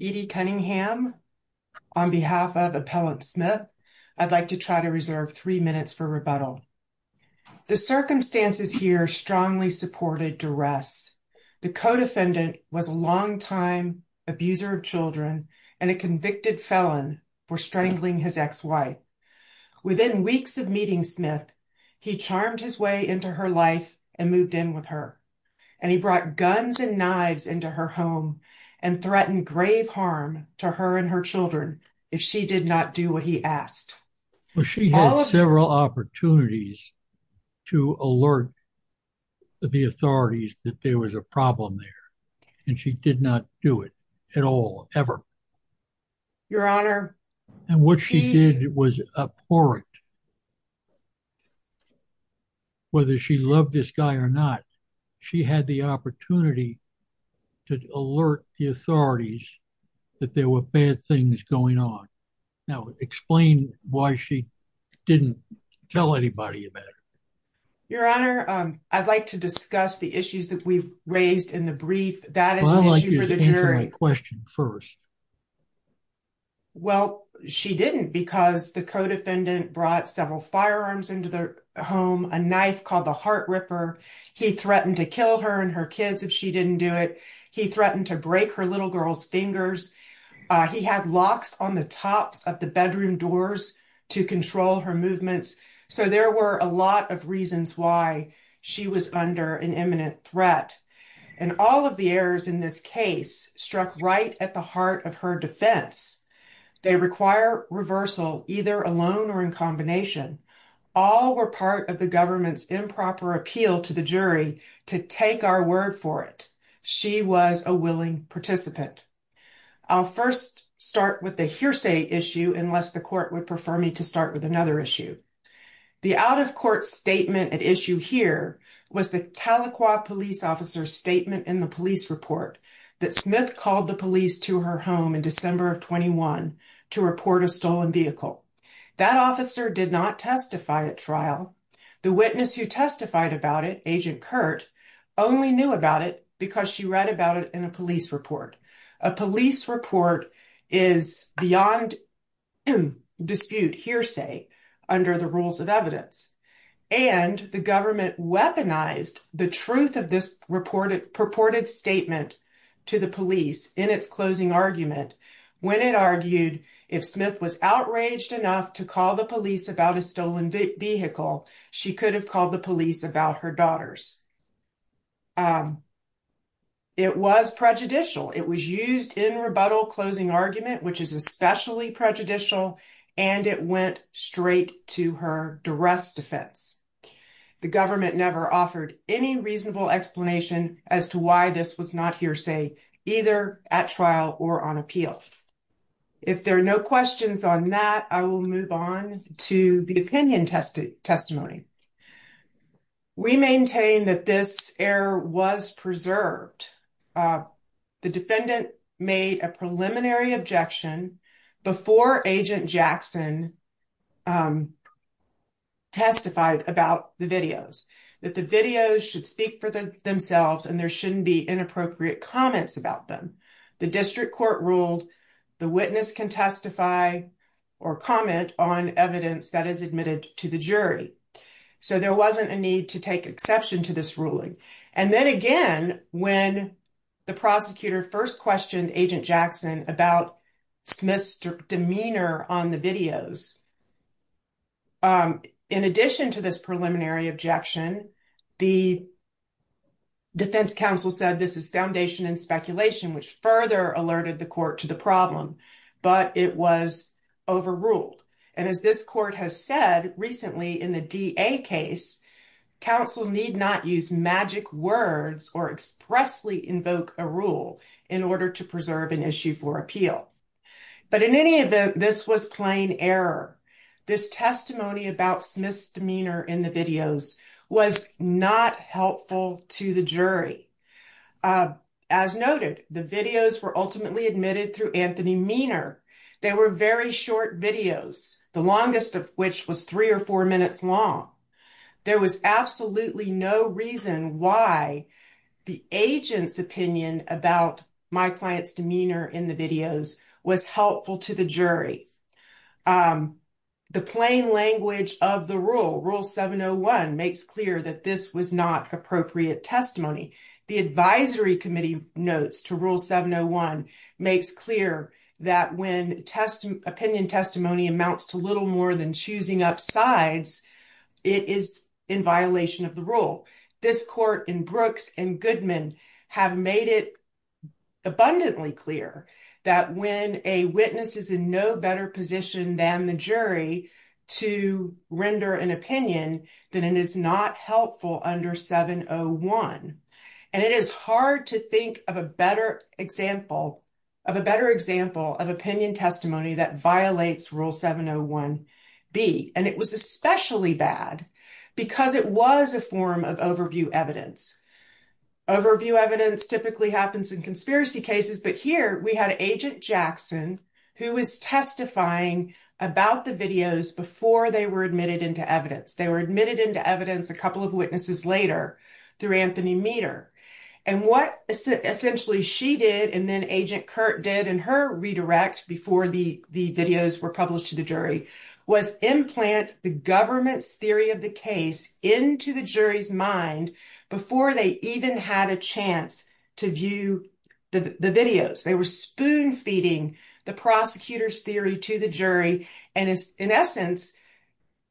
Edie Cunningham, on behalf of Appellant Smith, I would like to try to reserve three minutes for rebuttal. The circumstances here strongly supported duress. The co-defendant was a longtime abuser of children and a convicted felon for strangling his ex-wife. Within weeks of meeting Smith, he charmed his way into her life and moved in with her. And he brought guns and knives into her home and threatened grave harm to her and her children if she did not do what he asked. She had several opportunities to alert the authorities that there was a problem there, and she did not do it at all, ever. And what she did was abhorrent. Whether she loved this guy or not, she had the opportunity to alert the authorities that there were bad things going on. Now, explain why she didn't tell anybody about it. Your Honor, I'd like to discuss the issues that we've raised in the brief. That is an issue for the jury. I'd like you to answer my question first. Well, she didn't because the co-defendant brought several firearms into the home, a knife called the Heart Ripper. He threatened to kill her and her kids if she didn't do it. He threatened to break her little girl's fingers. He had locks on the tops of the bedroom doors to control her movements. So there were a lot of reasons why she was under an imminent threat. And all of the errors in this case struck right at the heart of her defense. They require reversal, either alone or in combination. All were part of the government's improper appeal to the jury to take our word for it. She was a willing participant. I'll first start with the hearsay issue, unless the court would prefer me to start with another issue. The out-of-court statement at issue here was the Tahlequah police officer's statement in the police report that Smith called the police to her home in December of 21 to report a stolen vehicle. The witness who testified about it, Agent Kurt, only knew about it because she read about it in a police report. A police report is beyond dispute hearsay under the rules of evidence. And the government weaponized the truth of this purported statement to the police in its closing argument when it argued if Smith was outraged enough to call the police about a stolen vehicle, she could have called the police about her daughters. It was prejudicial. It was used in rebuttal closing argument, which is especially prejudicial, and it went straight to her duress defense. The government never offered any reasonable explanation as to why this was not hearsay, either at trial or on appeal. If there are no questions on that, I will move on to the opinion testimony. We maintain that this error was preserved. The defendant made a preliminary objection before Agent Jackson testified about the videos, that the videos should speak for themselves and there shouldn't be inappropriate comments about them. The district court ruled the witness can testify or comment on evidence that is admitted to the jury. So there wasn't a need to take exception to this ruling. And then again, when the prosecutor first questioned Agent Jackson about Smith's demeanor on the videos. In addition to this objection, the defense counsel said this is foundation and speculation, which further alerted the court to the problem, but it was overruled. And as this court has said recently in the DA case, counsel need not use magic words or expressly invoke a rule in order to preserve an issue for appeal. But in any event, this was plain error. This testimony about Smith's demeanor in the videos was not helpful to the jury. As noted, the videos were ultimately admitted through Anthony Meaner. They were very short videos, the longest of which was three or four minutes long. There was absolutely no reason why the agent's opinion about my client's demeanor in the videos was helpful to the jury. The plain language of the rule, rule 701, makes clear that this was not appropriate testimony. The advisory committee notes to rule 701 makes clear that when opinion testimony amounts to little more than choosing up sides, it is in violation of the rule. This court in Brooks and Goodman have made it abundantly clear that when a witness is in no better position than the jury to render an opinion, that it is not helpful under 701. And it is hard to think of a better example of opinion testimony that violates rule 701B. And it was especially bad because it was a form of overview evidence. Overview evidence typically happens in conspiracy cases, but here we had Agent Jackson who was testifying about the videos before they were admitted into evidence. They were admitted into evidence a couple of witnesses later through Anthony Meaner. And what essentially she did, and then Agent Kurt did in her redirect before the videos were published to the jury, was implant the government's theory of the case into the jury's mind before they even had a chance to view the videos. They were spoon feeding the prosecutor's theory to the jury and in essence,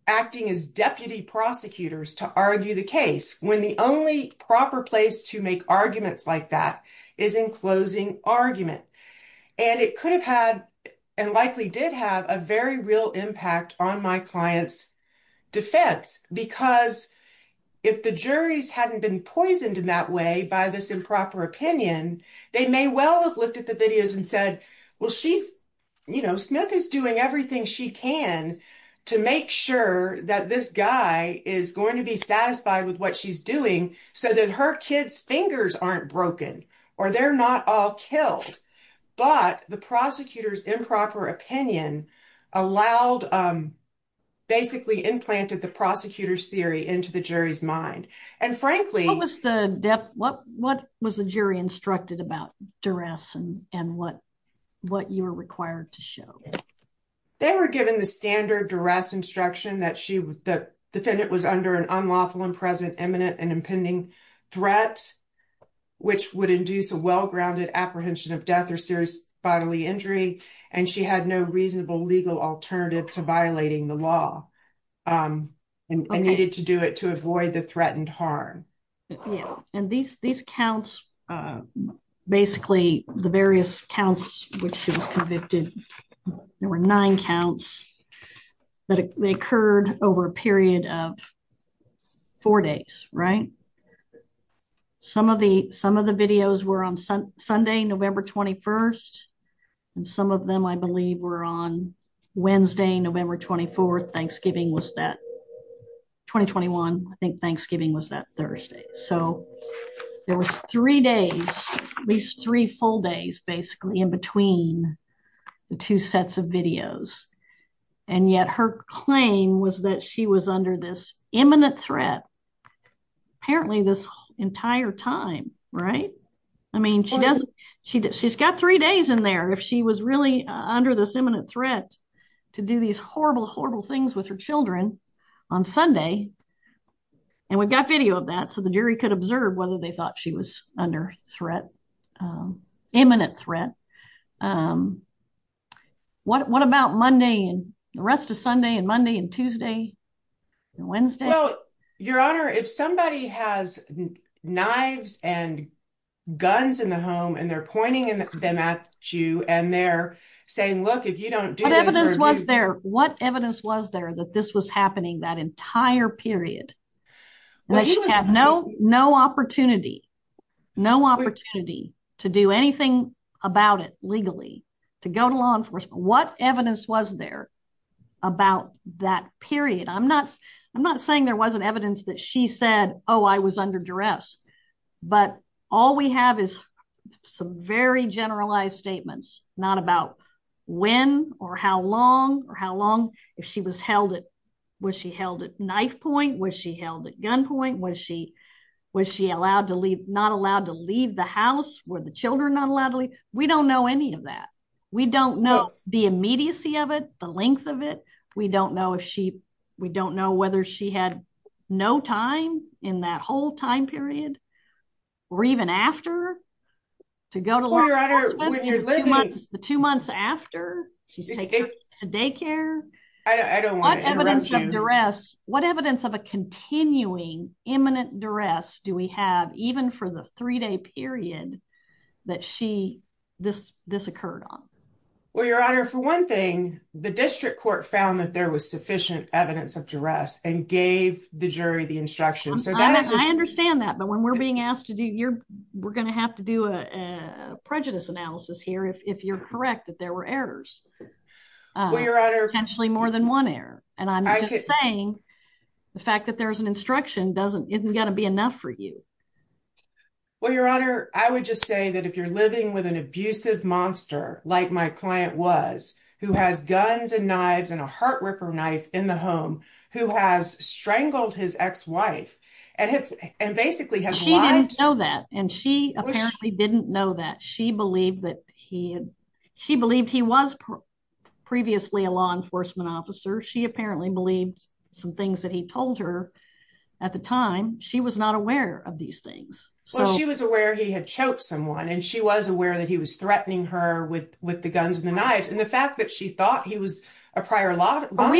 acting as deputy prosecutors to argue the case when the only proper place to make arguments like is in closing argument. And it could have had, and likely did have a very real impact on my client's defense because if the juries hadn't been poisoned in that way by this improper opinion, they may well have looked at the videos and said, well, she's, you know, Smith is doing everything she can to make sure that this guy is going to be satisfied with what she's doing so that her kid's fingers aren't broken or they're not all killed. But the prosecutor's improper opinion allowed, basically implanted the prosecutor's theory into the jury's mind. And frankly- What was the jury instructed about duress and what you were required to show? They were given the standard duress instruction that the defendant was under an unlawful and imminent and impending threat, which would induce a well-grounded apprehension of death or serious bodily injury. And she had no reasonable legal alternative to violating the law and needed to do it to avoid the threatened harm. Yeah. And these, these counts, basically the various counts, which she was convicted, there were nine counts that occurred over a period of four days, right? Some of the, some of the videos were on Sunday, November 21st, and some of them I believe were on Wednesday, November 24th. Thanksgiving was that, 2021, I think Thanksgiving was that Thursday. So there was three days, at least three full days, basically in between the two sets of videos. And yet her claim was that she was under this imminent threat, apparently this entire time, right? I mean, she doesn't, she's got three days in there. If she was really under this imminent threat to do these horrible, horrible things with her children on Sunday, and we've got video of that. So the jury could observe whether they thought she was under threat, imminent threat. What, what about Monday and the rest of Sunday and Monday and Tuesday and Wednesday? Well, your honor, if somebody has knives and guns in the home and they're pointing them at you and they're saying, look, if you don't do this. What evidence was there that this was happening that entire period? No, no opportunity, no opportunity to do anything about it legally, to go to law enforcement. What evidence was there about that period? I'm not, I'm not saying there wasn't evidence that she said, oh, I was under duress, but all we have is some very generalized statements, not about when or how long or how long, if she was held at, was she held at knife point? Was she held at gunpoint? Was she, was she allowed to leave, not allowed to leave the house? Were the children not allowed to leave? We don't know any of that. We don't know the immediacy of it, the length of it. We don't know if she, we don't know whether she had no time in that whole time period or even after to go to law enforcement, the two months after she's taken to daycare. What evidence of duress, what evidence of a continuing imminent duress do we have, even for the three-day period that she, this, this occurred on? Well, your honor, for one thing, the district court found that there was sufficient evidence of duress and gave the jury the instruction. I understand that, but when we're being asked to do, you're, we're going to have to do a prejudice analysis here, if you're correct, that there were errors, potentially more than one error. And I'm just saying the fact that there's an instruction doesn't, isn't going to be enough for you. Well, your honor, I would just say that if you're living with an abusive monster, like my client was, who has guns and knives and a heart who has strangled his ex-wife and basically has lied. She didn't know that. And she apparently didn't know that. She believed that he had, she believed he was previously a law enforcement officer. She apparently believed some things that he told her at the time. She was not aware of these things. Well, she was aware he had choked someone and she was aware that he was threatening her with, with the guns and the knives. And the fact that she thought he was a prior law enforcement.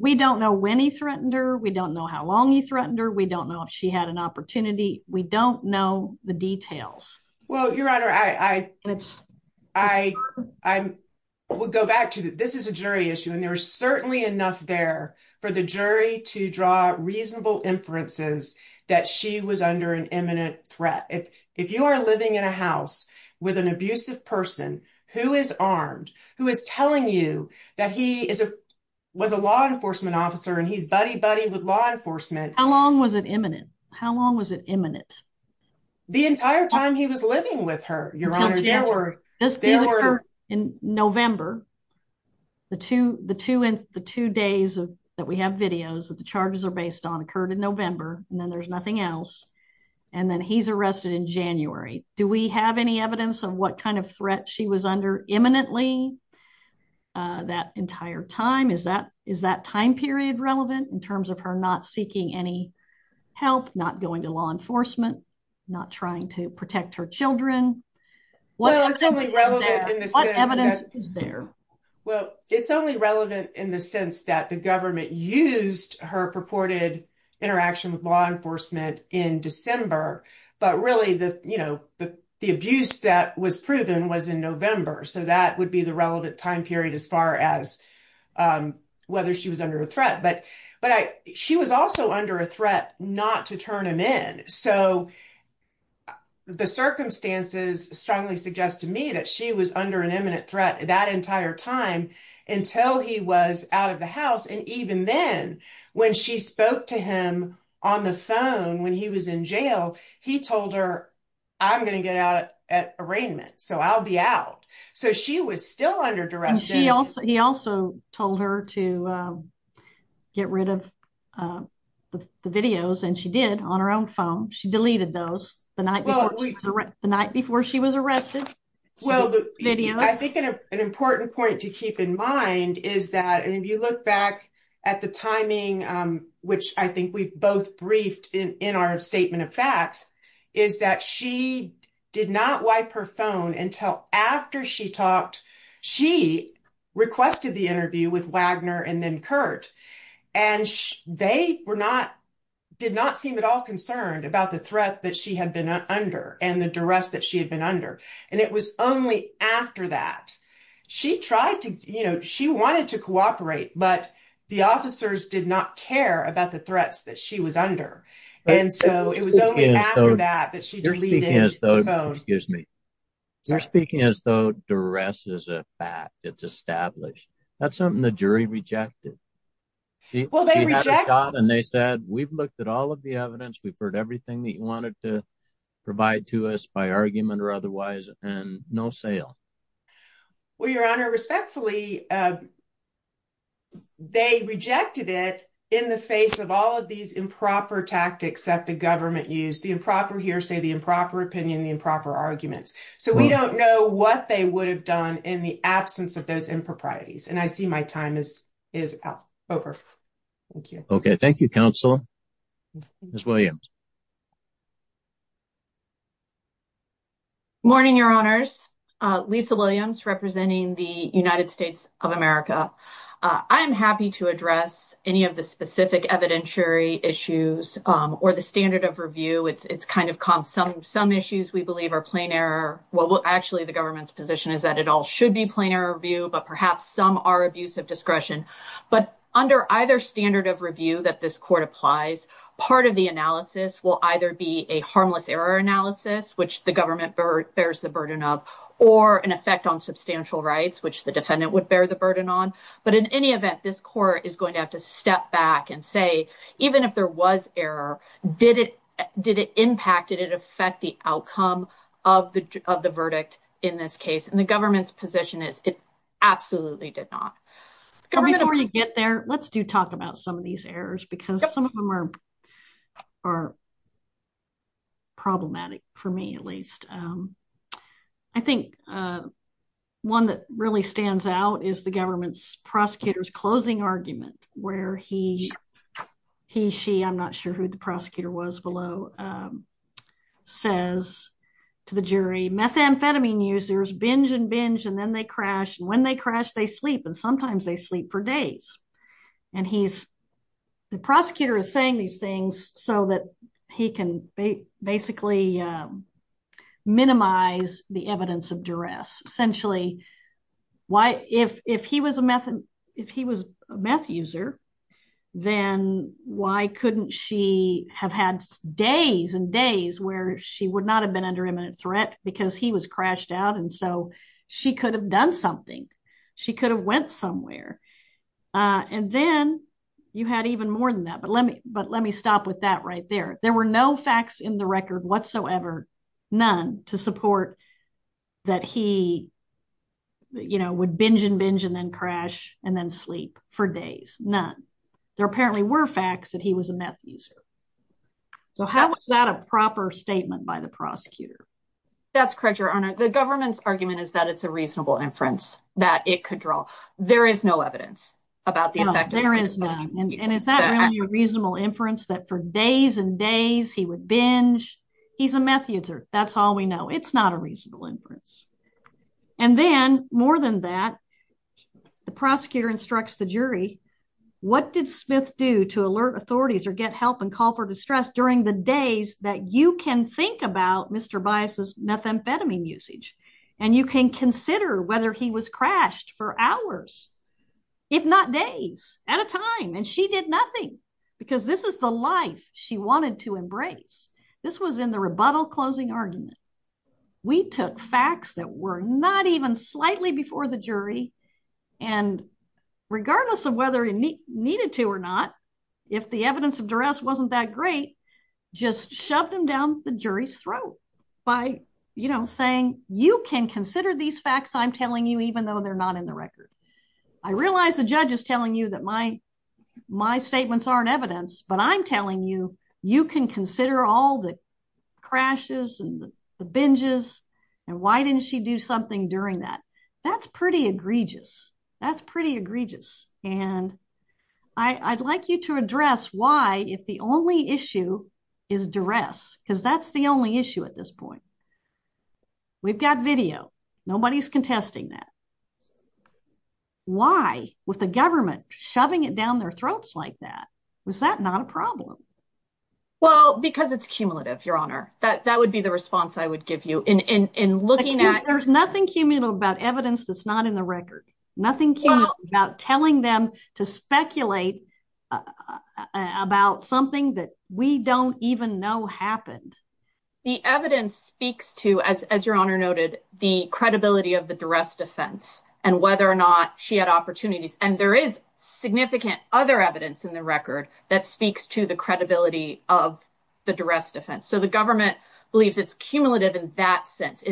We don't know when he threatened her. We don't know how long he threatened her. We don't know if she had an opportunity. We don't know the details. Well, your honor, I, I, I, I would go back to that. This is a jury issue and there was certainly enough there for the jury to draw reasonable inferences that she was under an imminent threat. If, if you are living in a house with an abusive person who is armed, who is telling you that he is a, was a law enforcement officer and he's buddy buddy with law enforcement. How long was it imminent? How long was it imminent? The entire time he was living with her, your honor. In November, the two, the two and the two days that we have videos that the charges are based on occurred in November and then there's nothing else. And then he's arrested in January. Do we have any evidence of what kind of threat she was under imminently that entire time? Is that, is that time period relevant in terms of her not seeking any help, not going to law enforcement, not trying to protect her children? Well, it's only relevant in the sense that the government used her purported interaction with law enforcement in December, but really the, you know, the, the abuse that was proven was in November. So that would be the relevant time period as far as whether she was under a threat, but, but I, she was also under a threat not to turn him in. So the circumstances strongly suggest to me that she was under an imminent threat that entire time until he was out of the house. And even then, when she spoke to him on the phone, when he was in jail, he told her, I'm going to get out at arraignment. So I'll be out. So she was still under duress. She also, he also told her to get rid of the videos and she did on her own phone. She deleted those the night before the night before she was arrested. Well, I think an important point to keep in mind is that, and if you look back at the timing which I think we've both briefed in, in our statement of facts, is that she did not wipe her phone until after she talked, she requested the interview with Wagner and then Kurt. And they were not, did not seem at all concerned about the threat that she had been under and the duress that she had been under. And it was only after that she tried to, you know, she wanted to cooperate, but the officers did not care about the threats that she was under. And so it was only after that that she deleted the phone. Excuse me. You're speaking as though duress is a fact. It's established. That's something the jury rejected. She had a shot and they said, we've looked at all of the evidence. We've heard everything that you wanted to provide to us by argument or otherwise, and no sale. Well, your honor, respectfully, they rejected it in the face of all of these improper tactics that the government used, the improper hearsay, the improper opinion, the improper arguments. So we don't know what they would have done in the absence of those improprieties. And I see my time is over. Thank you. Okay. Thank you, counsel. Ms. Williams. Morning, your honors. Lisa Williams representing the United States of America. I'm happy to address any of the specific evidentiary issues or the standard of review. It's kind of calm. Some issues we believe are plain error. Well, actually the government's position is that it all should be plain error review, but perhaps some are abuse of discretion. But under either standard of review that this court applies, part of the analysis will either be a harmless error analysis, which the government bears the burden of, or an effect on substantial rights, which the defendant would bear the burden on. But in any event, this court is going to have to step back and say, even if there was error, did it impact, did it affect the outcome of the verdict in this case? The government's position is it absolutely did not. Before you get there, let's do talk about some of these errors because some of them are problematic for me, at least. I think one that really stands out is the government's prosecutor's closing argument where he, he, she, I'm not sure who the prosecutor was below, says to the jury, methamphetamine users binge and binge, and then they crash. And when they crash, they sleep. And sometimes they sleep for days. And he's, the prosecutor is saying these things so that he can basically minimize the evidence of duress. Essentially, why, if, if he was a meth, if he was a meth user, then why couldn't she have had days and days where she would not have been under imminent threat because he was crashed out? And so she could have done something. She could have went somewhere. And then you had even more than that. But let me, but let me stop with that right there. There were no facts in the record whatsoever, none to support that he, you know, would binge and binge and then crash and then sleep for days. None. There apparently were facts that he was a meth user. So how was that a proper statement by the prosecutor? That's correct, Your Honor. The government's argument is that it's a reasonable inference that it could draw. There is no evidence about the effect. There is none. And is that really a reasonable inference that for days and days he would binge? He's a meth user. That's all we know. It's not a reasonable inference. And then more than that, the prosecutor instructs the jury, what did Smith do to alert authorities or get help and call for distress during the days that you can think about Mr. Bias's methamphetamine usage? And you can consider whether he was crashed for hours, if not days at a time. And she did nothing because this is the life she wanted to embrace. This was in the rebuttal closing argument. We took facts that were not even slightly before the jury. And regardless of whether it needed to or not, if the evidence of duress wasn't that great, just shoved them down the jury's throat by saying, you can consider these facts I'm telling you, even though they're not in the record. I realize the judge is telling you that my statements aren't evidence, but I'm telling you, you can consider all the crashes and the binges. And why didn't she do something during that? That's pretty egregious. That's pretty egregious. And I'd like you to address why, if the only issue is duress, because that's the only issue at this point. We've got video. Nobody's contesting that. Why, with the government shoving it down their throats like that, was that not a problem? Well, because it's cumulative, Your Honor. That would be the response I would give you in looking at- There's nothing cumulative about evidence that's not in the record. Nothing cumulative about telling them to speculate about something that we don't even know happened. The evidence speaks to, as Your Honor noted, the credibility of the duress defense and whether or not she had opportunities. And there is significant other evidence in the record that speaks to the credibility of the duress defense. So the government believes it's cumulative in that sense.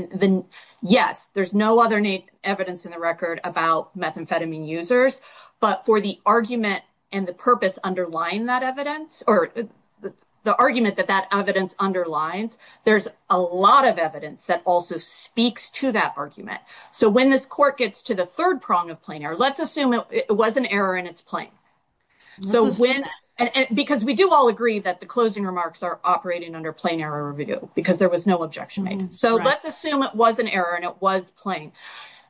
Yes, there's no other evidence in the record about methamphetamine users, but for the argument and the purpose underlying that evidence, or the argument that that evidence underlines, there's a lot of evidence that also speaks to that argument. So when this court gets to the third prong of plain error, let's assume it was an error and it's plain. Because we do all agree that the closing remarks are operating under plain error review because there was no objection made. So let's assume it was an error and it was plain.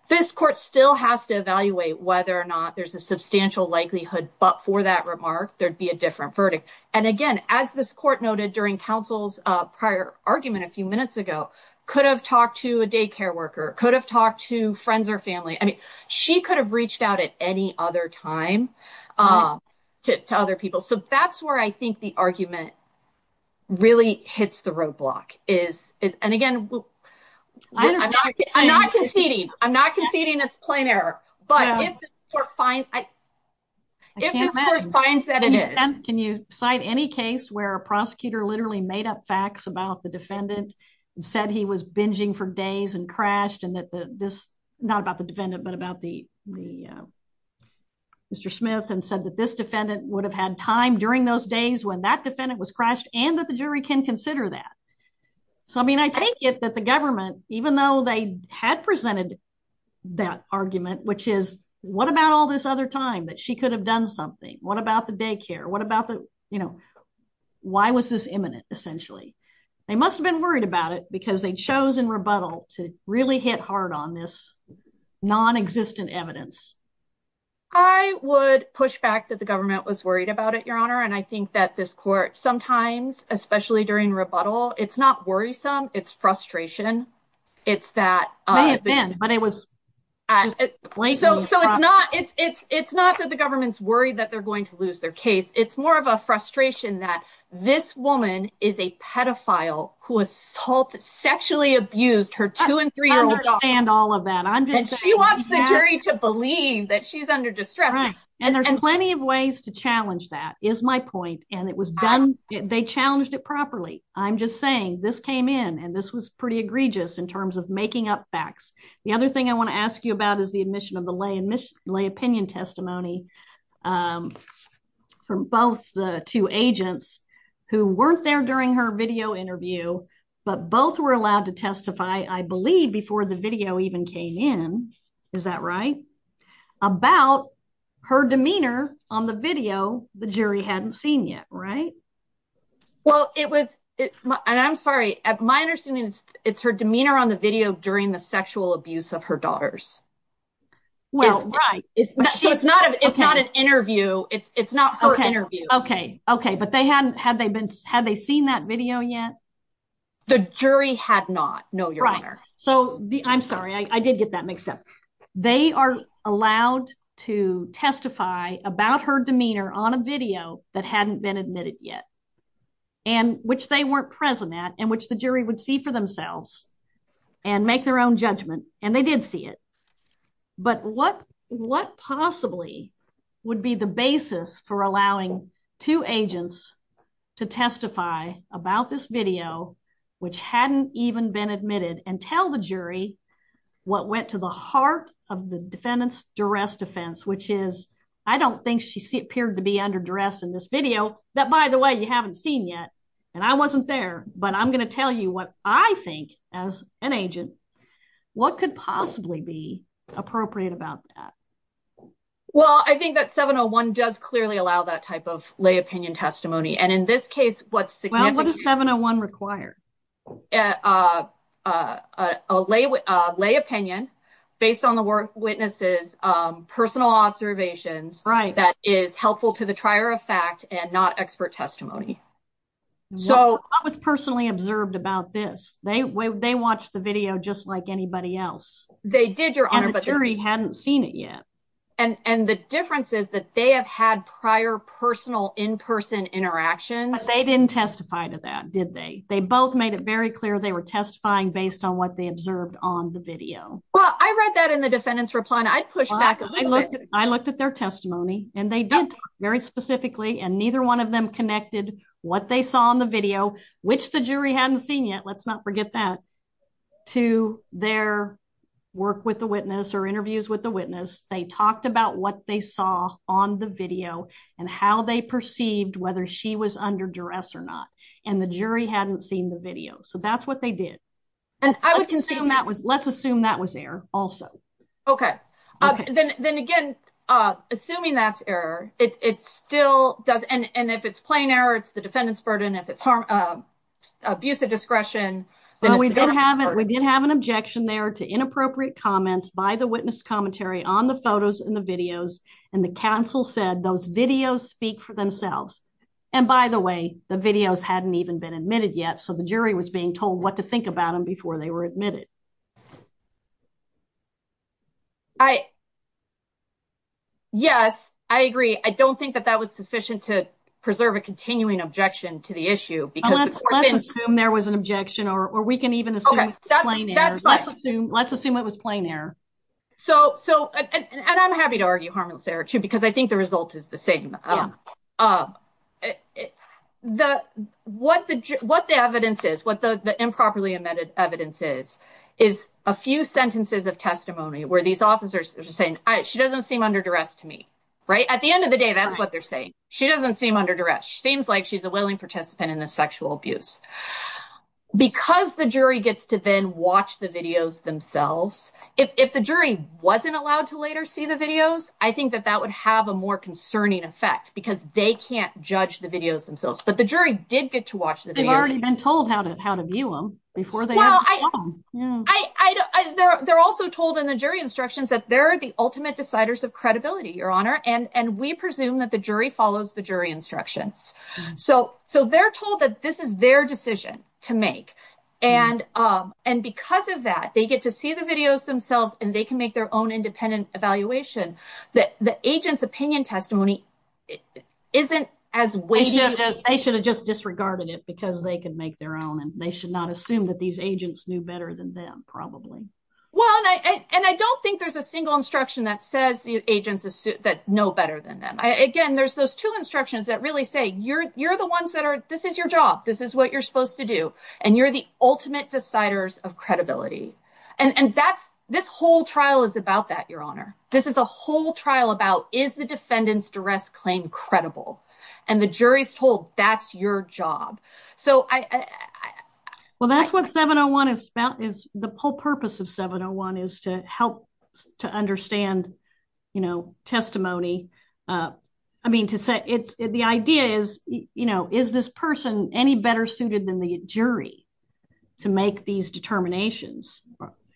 This court still has to evaluate whether or not there's a substantial likelihood, but for that remark, there'd be a different verdict. And again, as this court noted during counsel's prior argument a few minutes ago, could have talked to a daycare worker, could have talked to friends or family. I mean, she could have reached out at any other time to other people. So that's where I think the argument really hits the roadblock. And again, I'm not conceding it's plain error, but if this court finds that it is. Can you cite any case where a prosecutor literally made up facts about the defendant and said he was binging for days and crashed and that this, not about the defendant, but about the Mr. Smith and said that this defendant would have had time during those days when that defendant was crashed and that the jury can consider that. So, I mean, I take it that the government, even though they had presented that argument, which is what about all this other time that she could have done something? What about the daycare? What about the, you know, why was this imminent essentially? They must have been worried about it because they chose in rebuttal to really hit hard on this non-existent evidence. I would push back that the government was worried about it, Your Honor. And I think that this court sometimes, especially during rebuttal, it's not worrisome. It's frustration. It's that. May have been, but it was. So it's not that the government's worried that they're going to lose their case. It's more of a frustration that this woman is a pedophile who assault sexually abused her two and three-year-old and all of that. I'm just. She wants the jury to believe that she's under distress. And there's plenty of ways to challenge that is my point. And it was done. They challenged it properly. I'm just saying this came in and this was pretty egregious in terms of making up facts. The other thing I want to ask you about is the admission of the lay and miss lay opinion testimony from both the two agents who weren't there during her video interview, but both were allowed to testify, I believe, before the video even came in. Is that right? About her demeanor on the video. The jury hadn't seen yet. Right. Well, it was and I'm sorry, my understanding is it's her demeanor on the video during the abuse of her daughters. Well, right. It's not an interview. It's not her interview. Okay. Okay. But they hadn't had they been had they seen that video yet? The jury had not. No, your honor. So I'm sorry. I did get that mixed up. They are allowed to testify about her demeanor on a video that hadn't been admitted yet. And which they weren't present at and which the jury would see for themselves and make their own judgment. And they did see it. But what what possibly would be the basis for allowing two agents to testify about this video, which hadn't even been admitted and tell the jury what went to the heart of the defendant's duress defense, which is I don't think she appeared to be under duress in this video that, by the way, you haven't seen yet. And I wasn't there. But I'm going to tell you what I think as an agent, what could possibly be appropriate about that? Well, I think that 701 does clearly allow that type of lay opinion testimony. And in this case, what's the 701 required? A lay lay opinion based on the work witnesses, personal observations. Right. That is helpful to the trier of fact and not expert testimony. So I was personally observed about this. They watched the video just like anybody else. They did, Your Honor. But the jury hadn't seen it yet. And the difference is that they have had prior personal in-person interactions. They didn't testify to that, did they? They both made it very clear they were testifying based on what they observed on the video. Well, I read that in the defendant's reply and I pushed back. I looked at their testimony and they did very specifically. And neither one of them connected what they saw on the video, which the jury hadn't seen yet. Let's not forget that. To their work with the witness or interviews with the witness, they talked about what they saw on the video and how they perceived whether she was under duress or not. And the jury hadn't seen the video. So that's what they did. And I would assume that was let's assume that was also. Okay. Then again, assuming that's error, it still does. And if it's plain error, it's the defendant's burden. If it's harm, abuse of discretion. We did have an objection there to inappropriate comments by the witness commentary on the photos and the videos. And the counsel said those videos speak for themselves. And by the way, the videos hadn't even been admitted yet. So the jury was being told what to think about them before they were admitted. I, yes, I agree. I don't think that that was sufficient to preserve a continuing objection to the issue. Let's assume there was an objection or we can even assume it's plain error. Let's assume it was plain error. So, and I'm happy to argue harmless error too, because I think the result is the same. What the evidence is, what the improperly amended evidence is, is a few sentences of testimony where these officers are saying, she doesn't seem under duress to me, right? At the end of the day, that's what they're saying. She doesn't seem under duress. She seems like she's a willing participant in the sexual abuse. Because the jury gets to then watch the videos themselves, if the jury wasn't allowed to later see the videos, I think that that would have a more concerning effect because they can't judge the videos themselves. But the jury did get to watch the videos. They've already been told how to view them before they have a problem. Well, they're also told in the jury instructions that they're the ultimate deciders of credibility, Your Honor. And we presume that the jury follows the jury instructions. So they're told that this is their decision to make. And because of that, they get to see the videos themselves and they can make their own independent evaluation. The agent's opinion testimony isn't as weighty. I should have just disregarded it because they can make their own and they should not assume that these agents knew better than them, probably. Well, and I don't think there's a single instruction that says the agents that know better than them. Again, there's those two instructions that really say you're the ones that are, this is your job. This is what you're supposed to do. And you're the ultimate deciders of credibility. And that's, this whole trial is about that, Your Honor. This is a whole trial about, is the defendant's duress claim credible? And the jury's told that's your job. So I- Well, that's what 701 is about, is the whole purpose of 701 is to help to understand, you know, testimony. I mean, to say it's, the idea is, you know, is this person any better suited than the jury to make these determinations?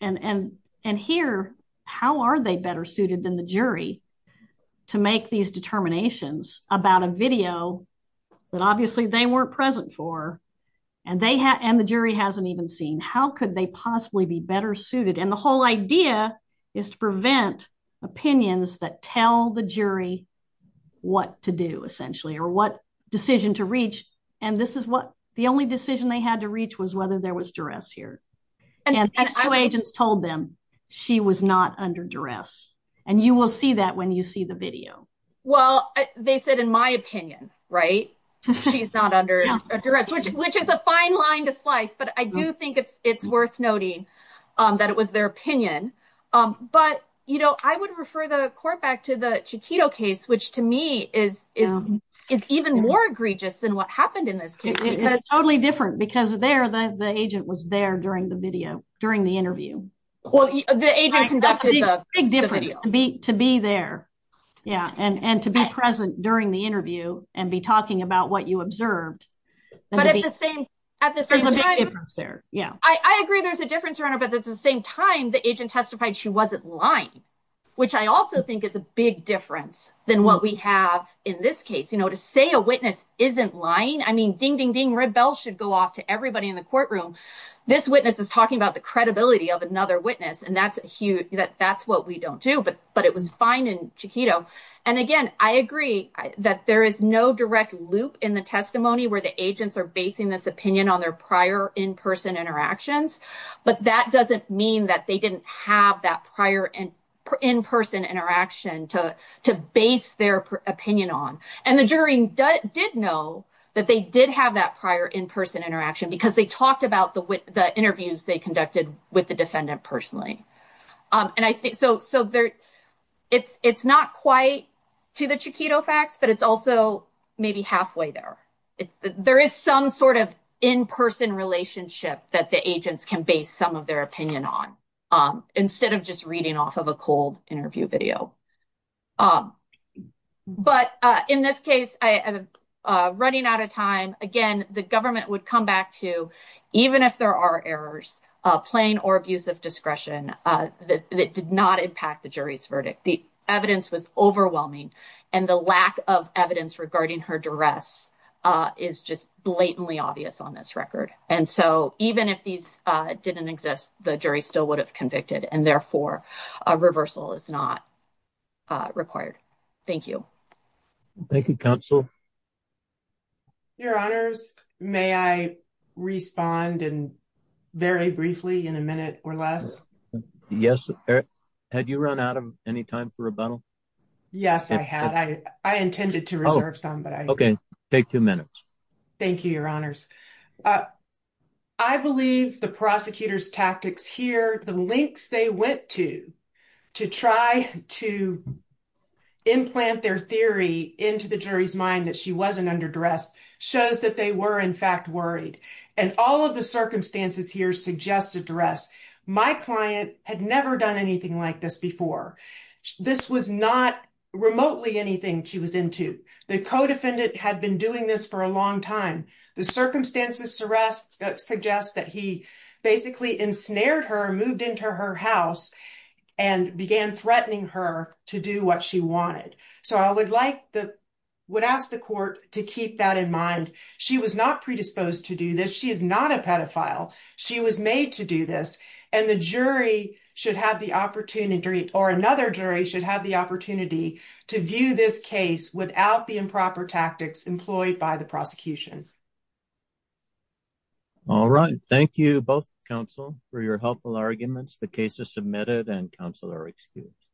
And here, how are they better suited than the jury to make these determinations about a video that obviously they weren't present for, and the jury hasn't even seen? How could they possibly be better suited? And the whole idea is to prevent opinions that tell the jury what to do, essentially, or what decision to reach. And this is what, the only decision they had to reach was whether there was duress here. And these two agents told them she was not under duress. And you will see that when you see the video. Well, they said, in my opinion, right? She's not under duress, which is a fine line to slice. But I do think it's worth noting that it was their opinion. But, you know, I would refer the court back to the Chiquito case, which to me is even more egregious than what happened in this case. It's totally different because there, the agent was there during the video, during the interview. Well, the agent conducted the video. That's a big difference to be there. Yeah. And to be present during the interview and be talking about what you observed. But at the same, at the same time. There's a big difference there. Yeah. I agree there's a difference around it, but at the same time, the agent testified she wasn't lying, which I also think is a big difference than what we have in this case. You know, to say a witness isn't lying, red bells should go off to everybody in the courtroom. This witness is talking about the credibility of another witness. And that's huge. That's what we don't do. But it was fine in Chiquito. And again, I agree that there is no direct loop in the testimony where the agents are basing this opinion on their prior in-person interactions. But that doesn't mean that they didn't have that prior in-person interaction to base their opinion on. And the jury did know that they did have that prior in-person interaction because they talked about the interviews they conducted with the defendant personally. And I think so. So it's not quite to the Chiquito facts, but it's also maybe halfway there. There is some sort of in-person relationship that the agents can base some of their opinion on instead of just reading off of a cold interview video. But in this case, running out of time, again, the government would come back to, even if there are errors, plain or abuse of discretion, that did not impact the jury's verdict. The evidence was overwhelming. And the lack of evidence regarding her duress is just blatantly obvious on this record. And so even if these didn't exist, the jury still would have convicted and therefore a reversal is not required. Thank you. Thank you, counsel. Your honors, may I respond and very briefly in a minute or less? Yes. Had you run out of any time for rebuttal? Yes, I had. I intended to reserve some, but I- Okay. Take two minutes. Thank you, your honors. I believe the prosecutor's tactics here, the links they went to, to try to implant their theory into the jury's mind that she wasn't under duress, shows that they were in fact worried. And all of the circumstances here suggest a duress. My client had never done anything like this before. This was not remotely anything she was The co-defendant had been doing this for a long time. The circumstances suggest that he basically ensnared her, moved into her house and began threatening her to do what she wanted. So I would ask the court to keep that in mind. She was not predisposed to do this. She is not a pedophile. She was made to do this. And the jury should have the opportunity or another jury should have the opportunity to view this case without the improper tactics employed by the prosecution. All right. Thank you both, counsel, for your helpful arguments. The case is submitted and counsel are excused.